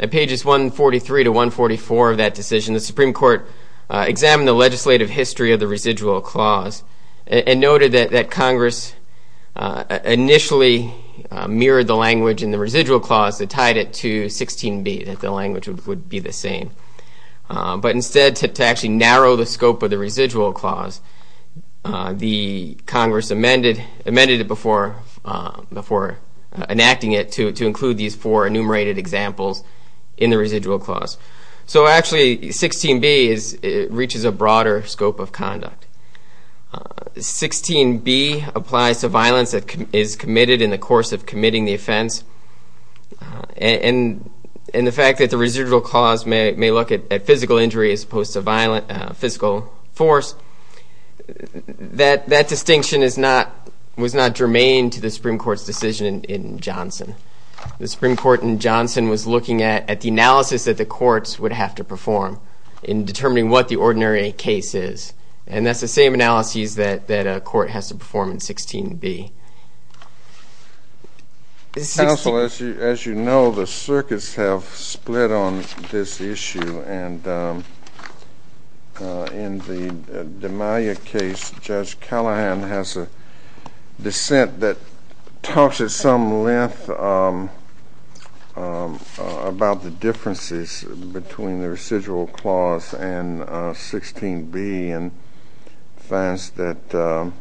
At pages 143-144 of that decision, the Supreme Court examined the legislative history of the Residual Clause and noted that Congress initially mirrored the language in the Residual Clause that tied it to 16b, that the language would be the same. But instead, to actually narrow the scope of the Residual Clause, the Congress amended it before enacting it to include these four enumerated examples in the Residual Clause. So actually, 16b reaches a broader scope of conduct. 16b applies to violence that is committed in the course of committing the offense. And the fact that the Residual Clause may look at physical injury as opposed to physical force, that distinction was not germane to the Supreme Court's decision in Johnson. The Supreme Court in Johnson was looking at the analysis that the courts would have to perform in determining what the ordinary case is. And that's the same analysis that a court has to perform in 16b. Counsel, as you know, the circuits have split on this issue. And in the D'Amalia case, Judge Callahan has a dissent that talks at some length about the differences between the Residual Clause and 16b and finds that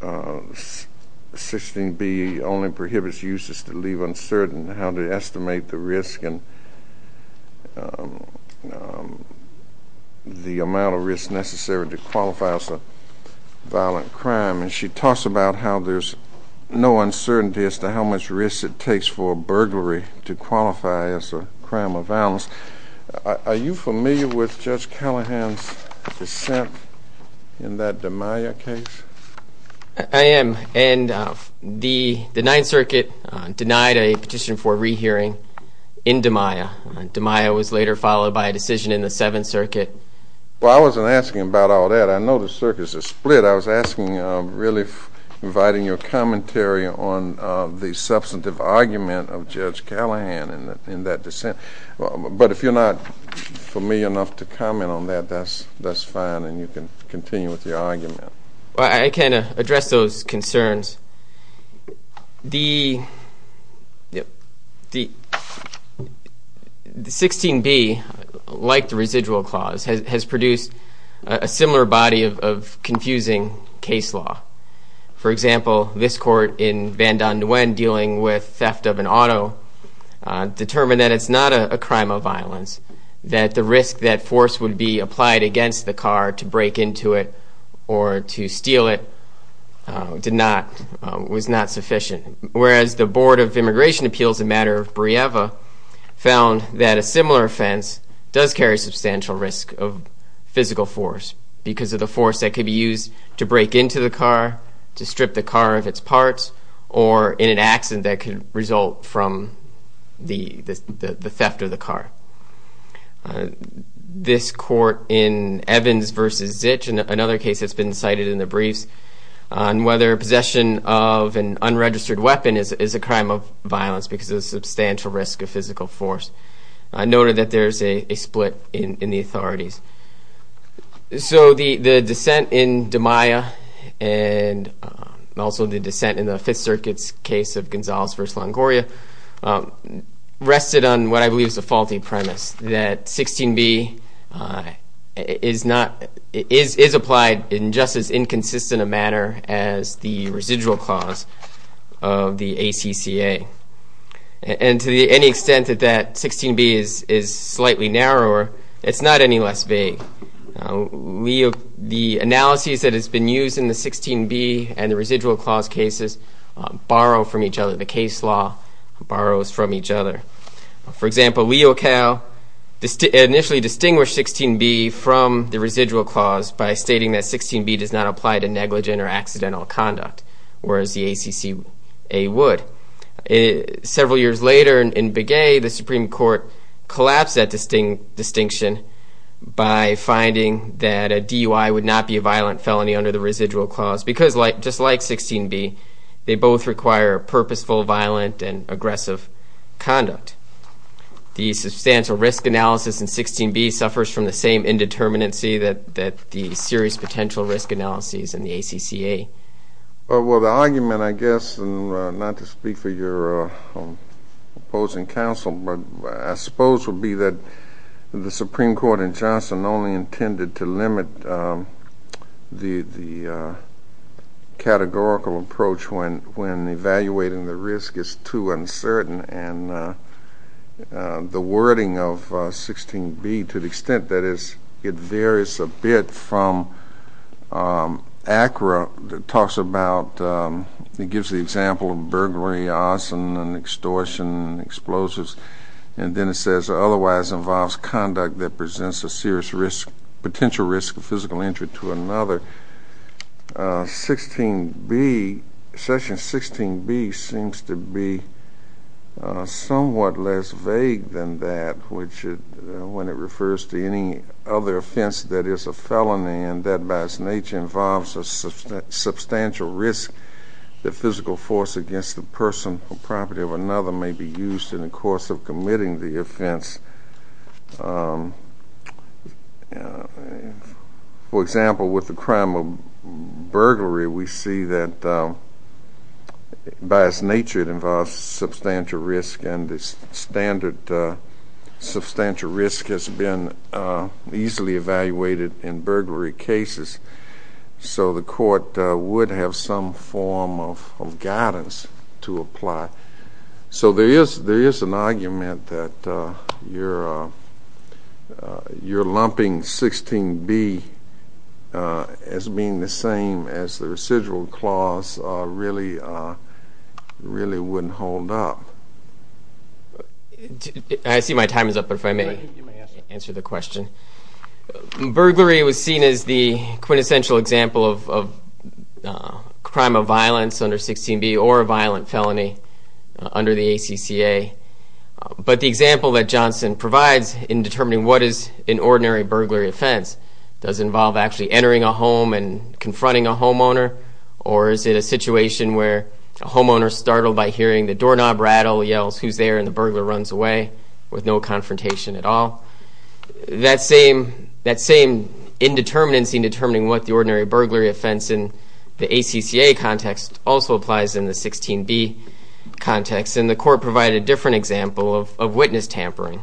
16b only prohibits uses to leave uncertain how to estimate the risk and the amount of risk necessary to qualify as a violent crime. And she talks about how there's no uncertainty as to how much risk it takes for a burglary to qualify as a crime of violence. Are you familiar with Judge Callahan's dissent in that D'Amalia case? I am. And the Ninth Circuit denied a petition for a rehearing in D'Amalia. D'Amalia was later followed by a decision in the Seventh Circuit. Well, I wasn't asking about all that. I know the circuits are split. I was asking, really inviting your commentary on the substantive argument of Judge Callahan in that dissent. But if you're not familiar enough to comment on that, that's fine, and you can continue with your argument. The 16b, like the Residual Clause, has produced a similar body of confusing case law. For example, this court in Van Don Nguyen dealing with theft of an auto determined that it's not a crime of violence, that the risk that force would be applied against the car to break into it or to steal it was not sufficient. Whereas the Board of Immigration Appeals in matter of Brieva found that a similar offense does carry substantial risk of physical force because of the force that could be used to break into the car, to strip the car of its parts, or in an accident that could result from the theft of the car. This court in Evans v. Zich, another case that's been cited in the briefs, on whether possession of an unregistered weapon is a crime of violence because of the substantial risk of physical force, noted that there's a split in the authorities. So the dissent in DiMaia and also the dissent in the Fifth Circuit's case of Gonzalez v. Longoria rested on what I believe is a faulty premise, that 16b is applied in just as inconsistent a manner as the Residual Clause of the ACCA. And to any extent that that 16b is slightly narrower, it's not any less vague. The analyses that has been used in the 16b and the Residual Clause cases borrow from each other. The case law borrows from each other. For example, Leo Cal initially distinguished 16b from the Residual Clause by stating that 16b does not apply to negligent or accidental conduct, whereas the ACCA would. Several years later in Begay, the Supreme Court collapsed that distinction by finding that a DUI would not be a violent felony under the Residual Clause because just like 16b, they both require purposeful, violent, and aggressive conduct. The substantial risk analysis in 16b suffers from the same indeterminacy that the serious potential risk analyses in the ACCA. Well, the argument, I guess, and not to speak for your opposing counsel, but I suppose would be that the Supreme Court in Johnson only intended to limit the categorical approach when evaluating the risk is too uncertain. And the wording of 16b, to the extent that it varies a bit from ACRA that talks about, it gives the example of burglary, arson, and extortion, and explosives, and then it says otherwise involves conduct that presents a serious risk, potential risk of physical injury to another. Section 16b seems to be somewhat less vague than that when it refers to any other offense that is a felony and that by its nature involves a substantial risk that physical force against the person or property of another may be used in the course of committing the offense. For example, with the crime of burglary, we see that by its nature it involves substantial risk, and the standard substantial risk has been easily evaluated in burglary cases. So the court would have some form of guidance to apply. So there is an argument that your lumping 16b as being the same as the residual clause really wouldn't hold up. I see my time is up, but if I may answer the question. Burglary was seen as the quintessential example of crime of violence under 16b or a violent felony under the ACCA, but the example that Johnson provides in determining what is an ordinary burglary offense does involve actually entering a home and confronting a homeowner, or is it a situation where a homeowner is startled by hearing the doorknob rattle, yells, who's there, and the burglar runs away with no confrontation at all? That same indeterminacy in determining what the ordinary burglary offense in the ACCA context also applies in the 16b context, and the court provided a different example of witness tampering,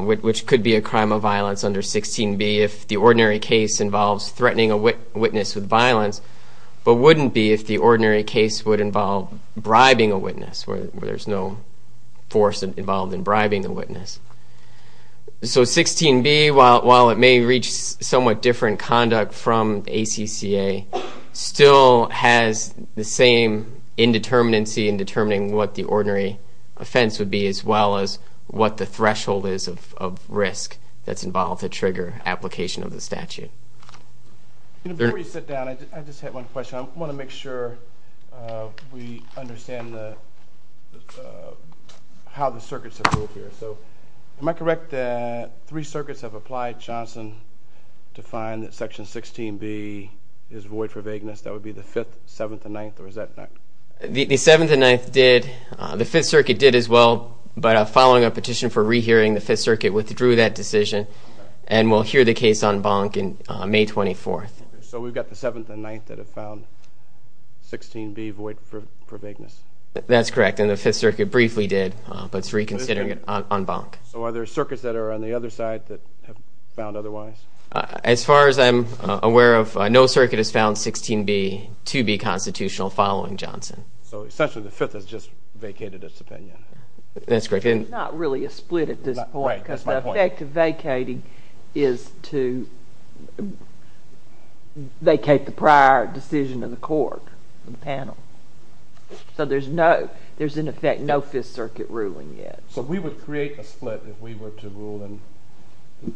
which could be a crime of violence under 16b if the ordinary case involves threatening a witness with violence, but wouldn't be if the ordinary case would involve bribing a witness where there's no force involved in bribing a witness. So 16b, while it may reach somewhat different conduct from the ACCA, still has the same indeterminacy in determining what the ordinary offense would be as well as what the threshold is of risk that's involved to trigger application of the statute. Before you sit down, I just have one question. I want to make sure we understand how the circuits have ruled here. So am I correct that three circuits have applied Johnson to find that Section 16b is void for vagueness? That would be the Fifth, Seventh, and Ninth, or is that not? The Seventh and Ninth did. The Fifth Circuit did as well, but following a petition for rehearing, the Fifth Circuit withdrew that decision, and we'll hear the case en banc on May 24th. So we've got the Seventh and Ninth that have found 16b void for vagueness? That's correct, and the Fifth Circuit briefly did, but it's reconsidering it en banc. So are there circuits that are on the other side that have found otherwise? As far as I'm aware of, no circuit has found 16b to be constitutional following Johnson. So essentially the Fifth has just vacated its opinion. That's correct. It's not really a split at this point because the effect of vacating is to vacate the prior decision of the court and panel. So there's, in effect, no Fifth Circuit ruling yet. So we would create a split if we were to rule in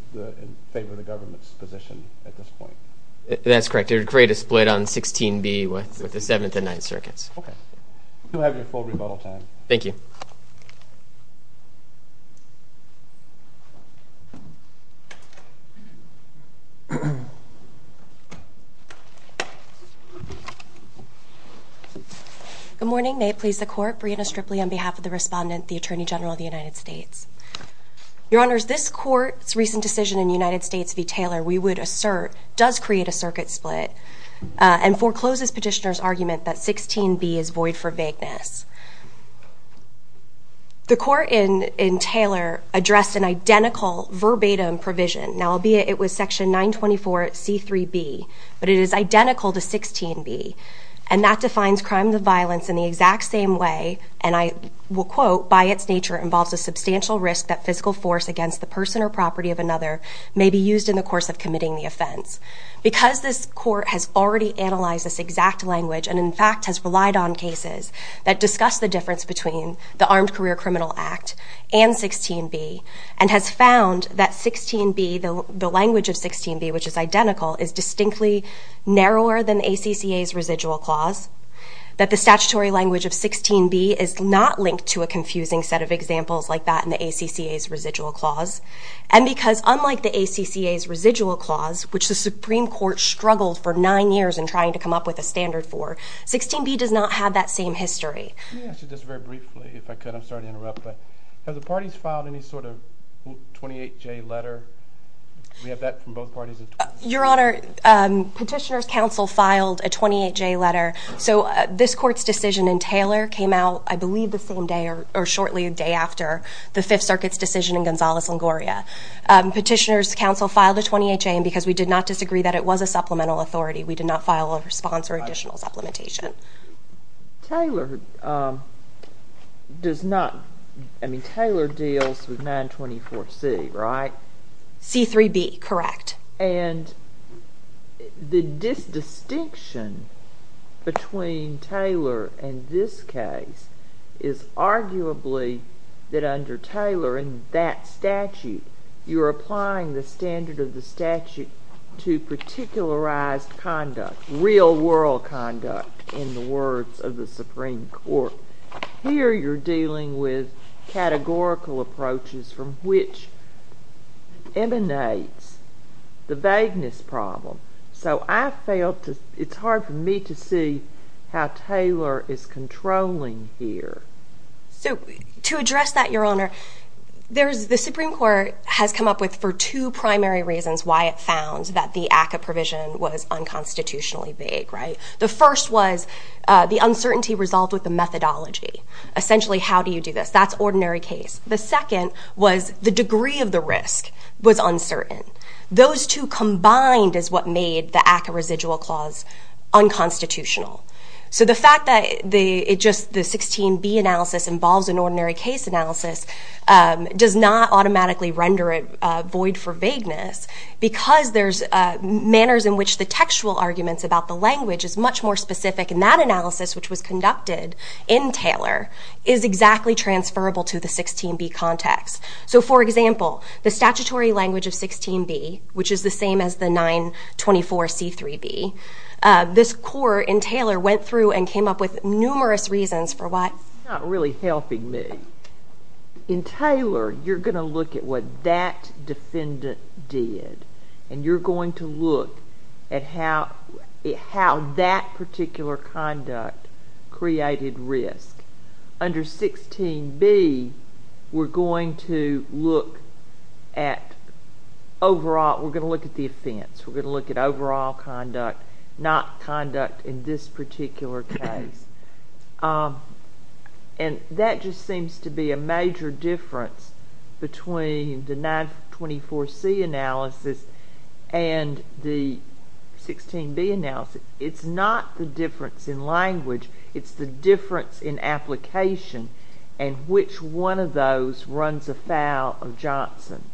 favor of the government's position at this point. That's correct. It would create a split on 16b with the Seventh and Ninth circuits. Okay. You'll have your full rebuttal time. Thank you. Good morning. May it please the Court. Breanna Stripley on behalf of the Respondent, the Attorney General of the United States. Your Honors, this Court's recent decision in the United States v. Taylor, we would assert, does create a circuit split and forecloses Petitioner's argument that 16b is void for vagueness. The Court in Taylor addressed an identical verbatim provision. Now, albeit it was Section 924C3b, but it is identical to 16b. And that defines crimes of violence in the exact same way, and I will quote, by its nature involves a substantial risk that physical force against the person or property of another may be used in the course of committing the offense. Because this Court has already analyzed this exact language and, in fact, has relied on cases that discuss the difference between the Armed Career Criminal Act and 16b, and has found that 16b, the language of 16b, which is identical, is distinctly narrower than the ACCA's residual clause, that the statutory language of 16b is not linked to a confusing set of examples like that in the ACCA's residual clause, and because unlike the ACCA's residual clause, which the Supreme Court struggled for nine years in trying to come up with a standard for, 16b does not have that same history. Let me ask you this very briefly, if I could. I'm sorry to interrupt, but have the parties filed any sort of 28J letter? We have that from both parties. Your Honor, Petitioner's counsel filed a 28J letter. So this Court's decision in Taylor came out, I believe, the same day or shortly a day after the Fifth Circuit's decision in Gonzalez-Longoria. Petitioner's counsel filed a 28J, and because we did not disagree that it was a supplemental authority, we did not file a response or additional supplementation. Taylor does not, I mean, Taylor deals with 924C, right? C-3b, correct. And the distinction between Taylor and this case is arguably that under Taylor, in that statute, you're applying the standard of the statute to particularized conduct, real-world conduct, in the words of the Supreme Court. Here you're dealing with categorical approaches from which emanates the vagueness problem. So I felt it's hard for me to see how Taylor is controlling here. So to address that, Your Honor, the Supreme Court has come up with, for two primary reasons, why it found that the ACCA provision was unconstitutionally vague, right? The first was the uncertainty resolved with the methodology. Essentially, how do you do this? That's ordinary case. The second was the degree of the risk was uncertain. Those two combined is what made the ACCA residual clause unconstitutional. So the fact that the 16B analysis involves an ordinary case analysis does not automatically render it void for vagueness because there's manners in which the textual arguments about the language is much more specific. And that analysis, which was conducted in Taylor, is exactly transferable to the 16B context. So, for example, the statutory language of 16B, which is the same as the 924 C-3b, this court in Taylor went through and came up with numerous reasons for why. It's not really helping me. In Taylor, you're going to look at what that defendant did, and you're going to look at how that particular conduct created risk. Under 16B, we're going to look at overall, we're going to look at the offense. We're going to look at overall conduct, not conduct in this particular case. And that just seems to be a major difference between the 924 C analysis and the 16B analysis. It's not the difference in language. It's the difference in application and which one of those runs afoul of Johnson.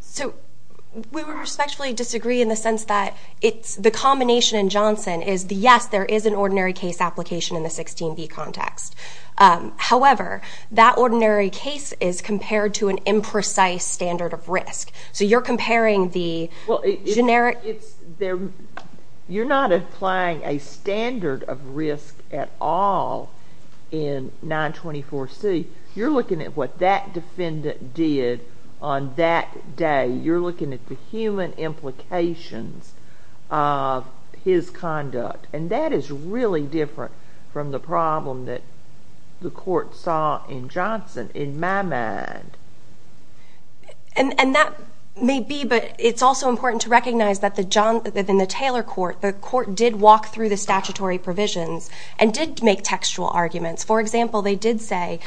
So, we respectfully disagree in the sense that the combination in Johnson is, yes, there is an ordinary case application in the 16B context. However, that ordinary case is compared to an imprecise standard of risk. So you're comparing the generic... You're not applying a standard of risk at all in 924 C. You're looking at what that defendant did on that day. You're looking at the human implications of his conduct. And that is really different from the problem that the court saw in Johnson, in my mind. And that may be, but it's also important to recognize that in the Taylor court, the court did walk through the statutory provisions and did make textual arguments. For example, they did say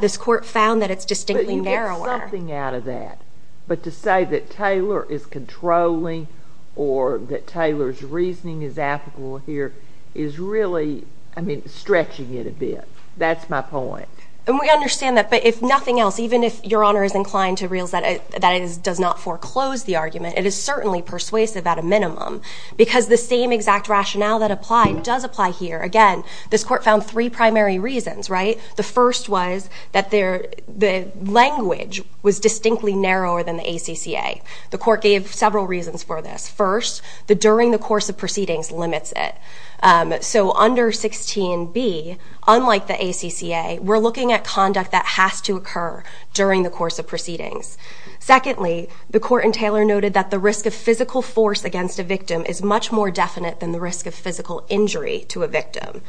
this court found that it's distinctly narrower. But you get something out of that. But to say that Taylor is controlling or that Taylor's reasoning is applicable here is really, I mean, stretching it a bit. That's my point. And we understand that. But if nothing else, even if Your Honor is inclined to realize that it does not foreclose the argument, it is certainly persuasive at a minimum because the same exact rationale that applied does apply here. Again, this court found three primary reasons, right? The first was that the language was distinctly narrower than the ACCA. The court gave several reasons for this. First, the during the course of proceedings limits it. So under 16b, unlike the ACCA, we're looking at conduct that has to occur during the course of proceedings. Secondly, the court in Taylor noted that the risk of physical force against a victim is much more definite than the risk of physical injury to a victim.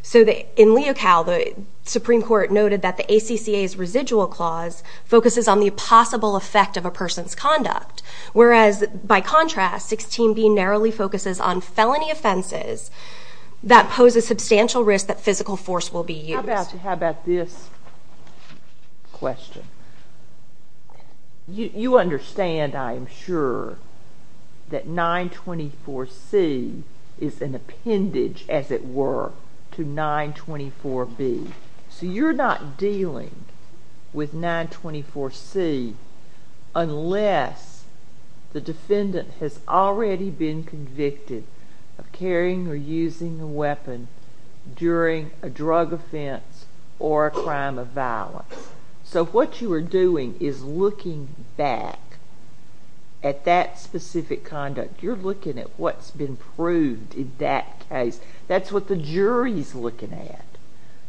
So in Leocal, the Supreme Court noted that the ACCA's residual clause focuses on the possible effect of a person's conduct. Whereas, by contrast, 16b narrowly focuses on felony offenses that pose a substantial risk that physical force will be used. How about this question? You understand, I am sure, that 924C is an appendage, as it were, to 924B. So you're not dealing with 924C unless the defendant has already been convicted of carrying or using a weapon during a drug offense or a crime of violence. So what you are doing is looking back at that specific conduct. You're looking at what's been proved in that case. That's what the jury's looking at.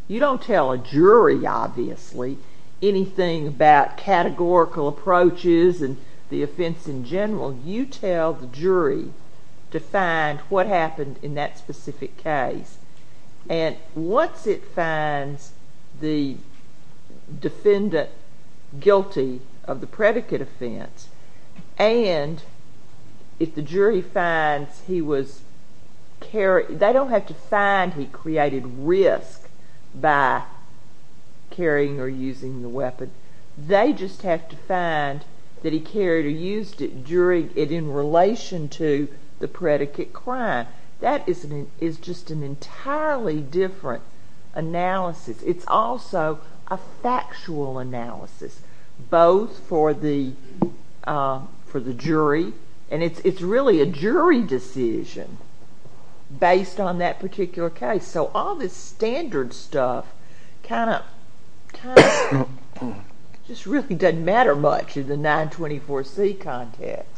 You don't tell a jury, obviously, anything about categorical approaches and the offense in general. You tell the jury to find what happened in that specific case. And once it finds the defendant guilty of the predicate offense, and if the jury finds he was carried, they don't have to find he created risk by carrying or using the weapon. They just have to find that he carried or used it in relation to the predicate crime. That is just an entirely different analysis. It's also a factual analysis, both for the jury, and it's really a jury decision based on that particular case. So all this standard stuff kind of just really doesn't matter much in the 924C context.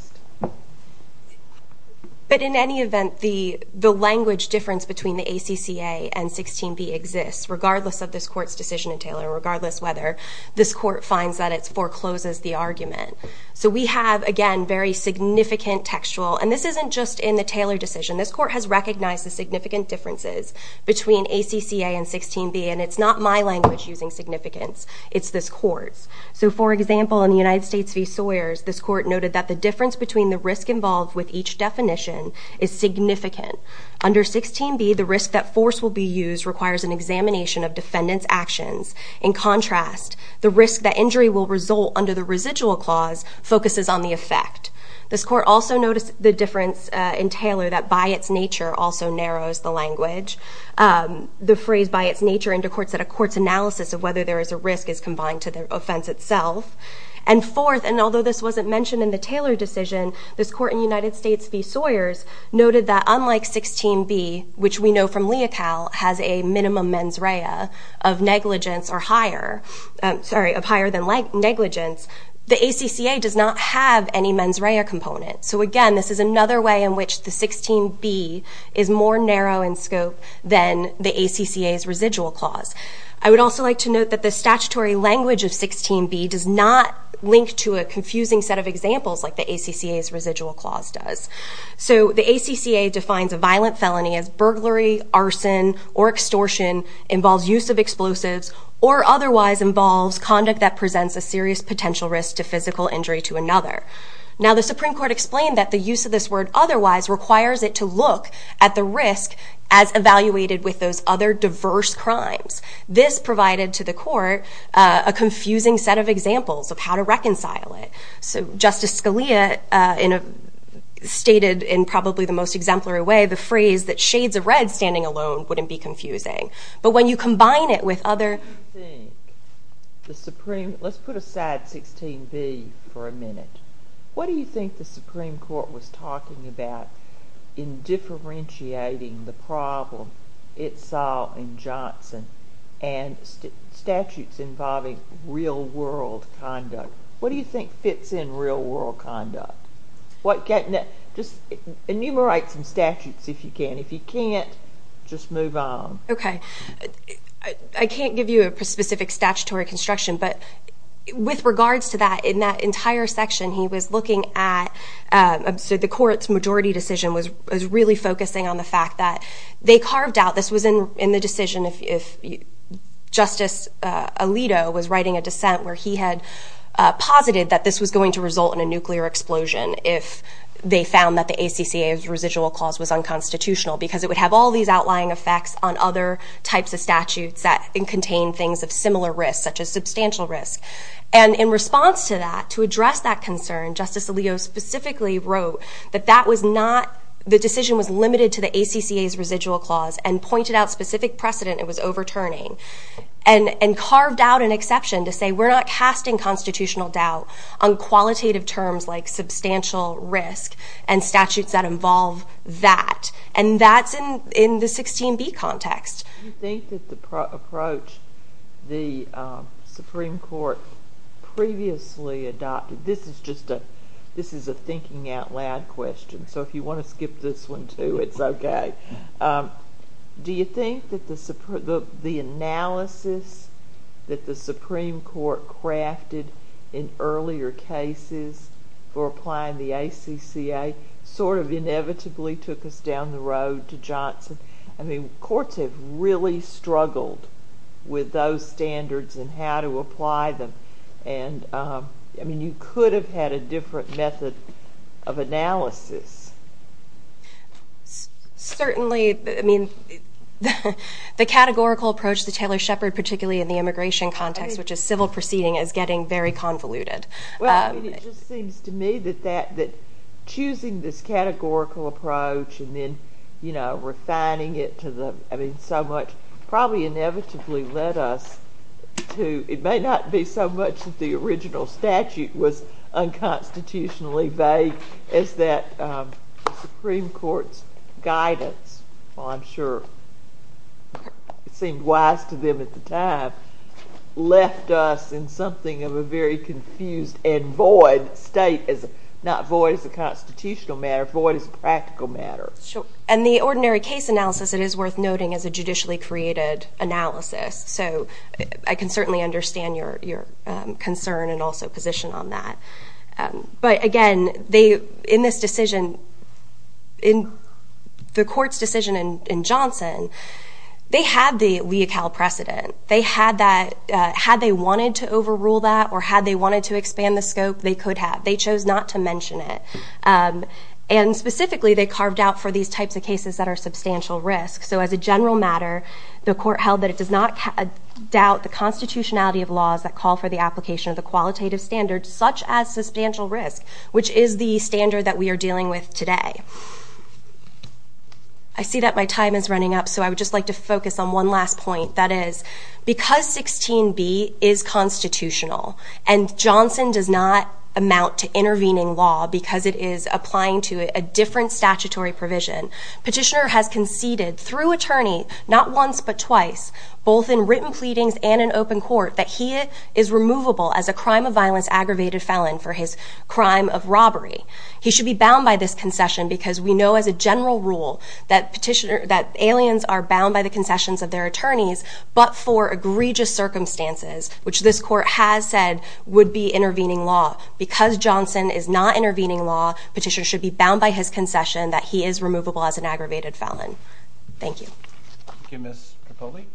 But in any event, the language difference between the ACCA and 16b exists, regardless of this court's decision in Taylor, regardless whether this court finds that it forecloses the argument. So we have, again, very significant textual. And this isn't just in the Taylor decision. This court has recognized the significant differences between ACCA and 16b, and it's not my language using significance. It's this court's. So, for example, in the United States v. Sawyers, this court noted that the difference between the risk involved with each definition is significant. Under 16b, the risk that force will be used requires an examination of defendant's actions. In contrast, the risk that injury will result under the residual clause focuses on the effect. This court also noticed the difference in Taylor that by its nature also narrows the language. The phrase by its nature in the courts that a court's analysis of whether there is a risk is combined to the offense itself. And fourth, and although this wasn't mentioned in the Taylor decision, this court in the United States v. Sawyers noted that unlike 16b, which we know from Leocal has a minimum mens rea of negligence or higher, sorry, of higher than negligence, the ACCA does not have any mens rea components. So, again, this is another way in which the 16b is more narrow in scope than the ACCA's residual clause. I would also like to note that the statutory language of 16b does not link to a confusing set of examples like the ACCA's residual clause does. So, the ACCA defines a violent felony as burglary, arson, or extortion, involves use of explosives, or otherwise involves conduct that presents a serious potential risk to physical injury to another. Now, the Supreme Court explained that the use of this word otherwise requires it to look at the risk as evaluated with those other diverse crimes. This provided to the court a confusing set of examples of how to reconcile it. So, Justice Scalia stated in probably the most exemplary way the phrase that shades of red standing alone wouldn't be confusing. But when you combine it with other... Let's put aside 16b for a minute. What do you think the Supreme Court was talking about in differentiating the problem it saw in Johnson and statutes involving real world conduct? What do you think fits in real world conduct? Just enumerate some statutes if you can. If you can't, just move on. Okay. I can't give you a specific statutory construction, but with regards to that, in that entire section, he was looking at... So, the court's majority decision was really focusing on the fact that they carved out... This was in the decision if Justice Alito was writing a dissent where he had posited that this was going to result in a nuclear explosion if they found that the ACCA's residual clause was unconstitutional because it would have all these outlying effects on other types of statutes that contain things of similar risk, such as substantial risk. And in response to that, to address that concern, Justice Alito specifically wrote that that was not... The decision was limited to the ACCA's residual clause and pointed out specific precedent it was overturning and carved out an exception to say we're not casting constitutional doubt on qualitative terms like substantial risk and statutes that involve that. And that's in the 16B context. Do you think that the approach the Supreme Court previously adopted... This is just a thinking out loud question, so if you want to skip this one too, it's okay. Do you think that the analysis that the Supreme Court crafted in earlier cases for applying the ACCA sort of inevitably took us down the road to Johnson? I mean, courts have really struggled with those standards and how to apply them. And, I mean, you could have had a different method of analysis. Certainly, I mean, the categorical approach to Taylor-Shepard, particularly in the immigration context, which is civil proceeding, is getting very convoluted. Well, I mean, it just seems to me that choosing this categorical approach and then, you know, refining it to the... probably inevitably led us to... It may not be so much that the original statute was unconstitutionally vague as that the Supreme Court's guidance, while I'm sure it seemed wise to them at the time, left us in something of a very confused and void state, not void as a constitutional matter, void as a practical matter. Sure. And the ordinary case analysis, it is worth noting, is a judicially created analysis. So I can certainly understand your concern and also position on that. But, again, in this decision, in the court's decision in Johnson, they had the legal precedent. They had that. Had they wanted to overrule that or had they wanted to expand the scope, they could have. They chose not to mention it. And, specifically, they carved out for these types of cases that are substantial risk. So, as a general matter, the court held that it does not doubt the constitutionality of laws that call for the application of the qualitative standards, such as substantial risk, which is the standard that we are dealing with today. I see that my time is running up, so I would just like to focus on one last point. That is, because 16b is constitutional and Johnson does not amount to intervening law because it is applying to a different statutory provision, Petitioner has conceded, through attorney, not once but twice, both in written pleadings and in open court, that he is removable as a crime of violence aggravated felon for his crime of robbery. He should be bound by this concession because we know, as a general rule, that aliens are bound by the concessions of their attorneys, but for egregious circumstances, which this court has said would be intervening law. Because Johnson is not intervening law, Petitioner should be bound by his concession that he is removable as an aggravated felon. Thank you. Thank you, Ms. Tripoli.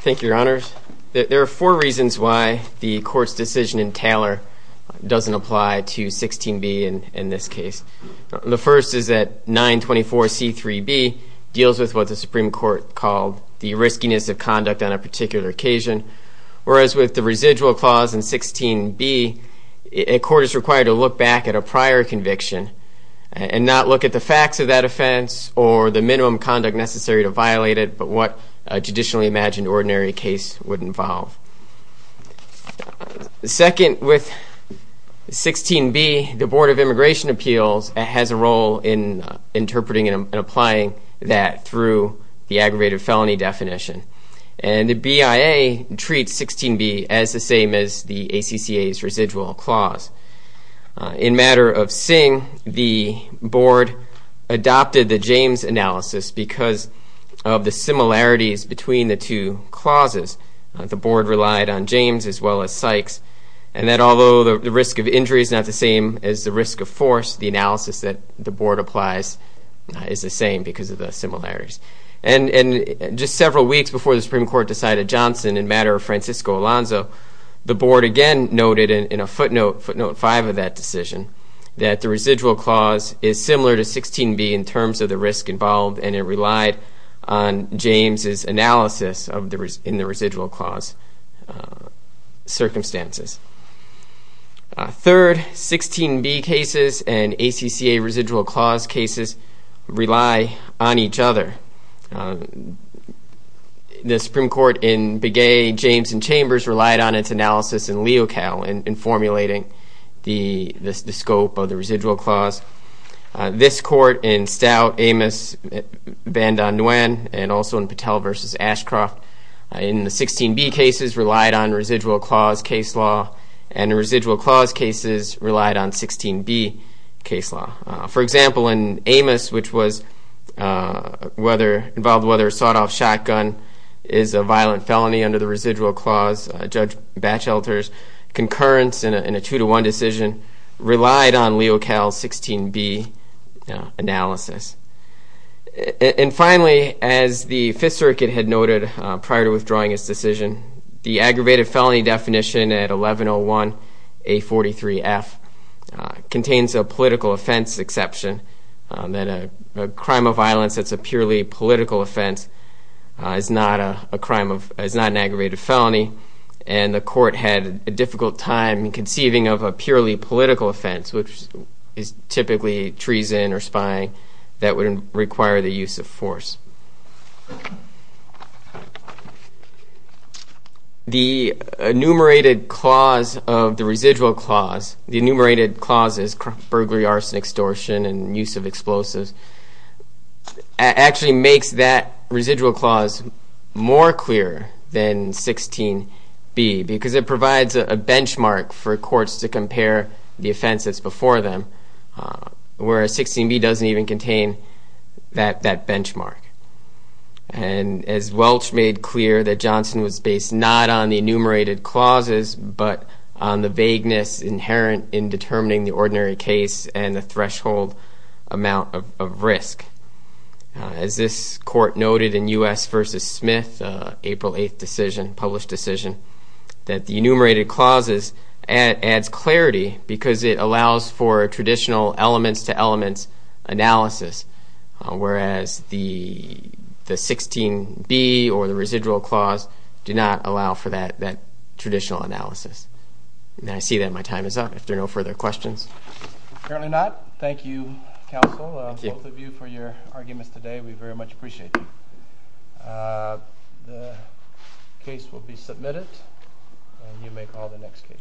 Thank you, Your Honors. There are four reasons why the court's decision in Taylor doesn't apply to 16b in this case. The first is that 924C3b deals with what the Supreme Court called the riskiness of conduct on a particular occasion, whereas with the residual clause in 16b, a court is required to look back at a prior conviction and not look at the facts of that offense or the minimum conduct necessary to violate it, but what a judicially imagined ordinary case would involve. Second, with 16b, the Board of Immigration Appeals has a role in interpreting and applying that through the aggravated felony definition. And the BIA treats 16b as the same as the ACCA's residual clause. In matter of Singh, the Board adopted the James analysis because of the similarities between the two clauses. The Board relied on James as well as Sykes, and that although the risk of injury is not the same as the risk of force, the analysis that the Board applies is the same because of the similarities. And just several weeks before the Supreme Court decided Johnson in matter of Francisco Alonzo, the Board again noted in a footnote, footnote 5 of that decision, that the residual clause is similar to 16b in terms of the risk involved, and it relied on James' analysis in the residual clause circumstances. Third, 16b cases and ACCA residual clause cases rely on each other. The Supreme Court in Begay, James, and Chambers relied on its analysis in LeoCal in formulating the scope of the residual clause. This court in Stout, Amos, Van Don Nguyen, and also in Patel v. Ashcroft, in the 16b cases, relied on residual clause case law, and the residual clause cases relied on 16b case law. For example, in Amos, which involved whether a sawed-off shotgun is a violent felony under the residual clause, Judge Batchelter's concurrence in a two-to-one decision relied on LeoCal's 16b analysis. And finally, as the Fifth Circuit had noted prior to withdrawing its decision, the aggravated felony definition at 1101A43F contains a political offense exception, that a crime of violence that's a purely political offense is not an aggravated felony, and the court had a difficult time conceiving of a purely political offense, which is typically treason or spying that would require the use of force. The enumerated clause of the residual clause, the enumerated clauses, burglary, arson, extortion, and use of explosives, actually makes that residual clause more clear than 16b, because it provides a benchmark for courts to compare the offenses before them, whereas 16b doesn't even contain that benchmark. And as Welch made clear, that Johnson was based not on the enumerated clauses, but on the vagueness inherent in determining the ordinary case and the threshold amount of risk. As this court noted in U.S. v. Smith, April 8th decision, published decision, that the enumerated clauses adds clarity because it allows for traditional elements-to-elements analysis, whereas the 16b or the residual clause did not allow for that traditional analysis. And I see that my time is up, if there are no further questions. Apparently not. Thank you, counsel, both of you for your arguments today. We very much appreciate it. The case will be submitted, and you may call the next case.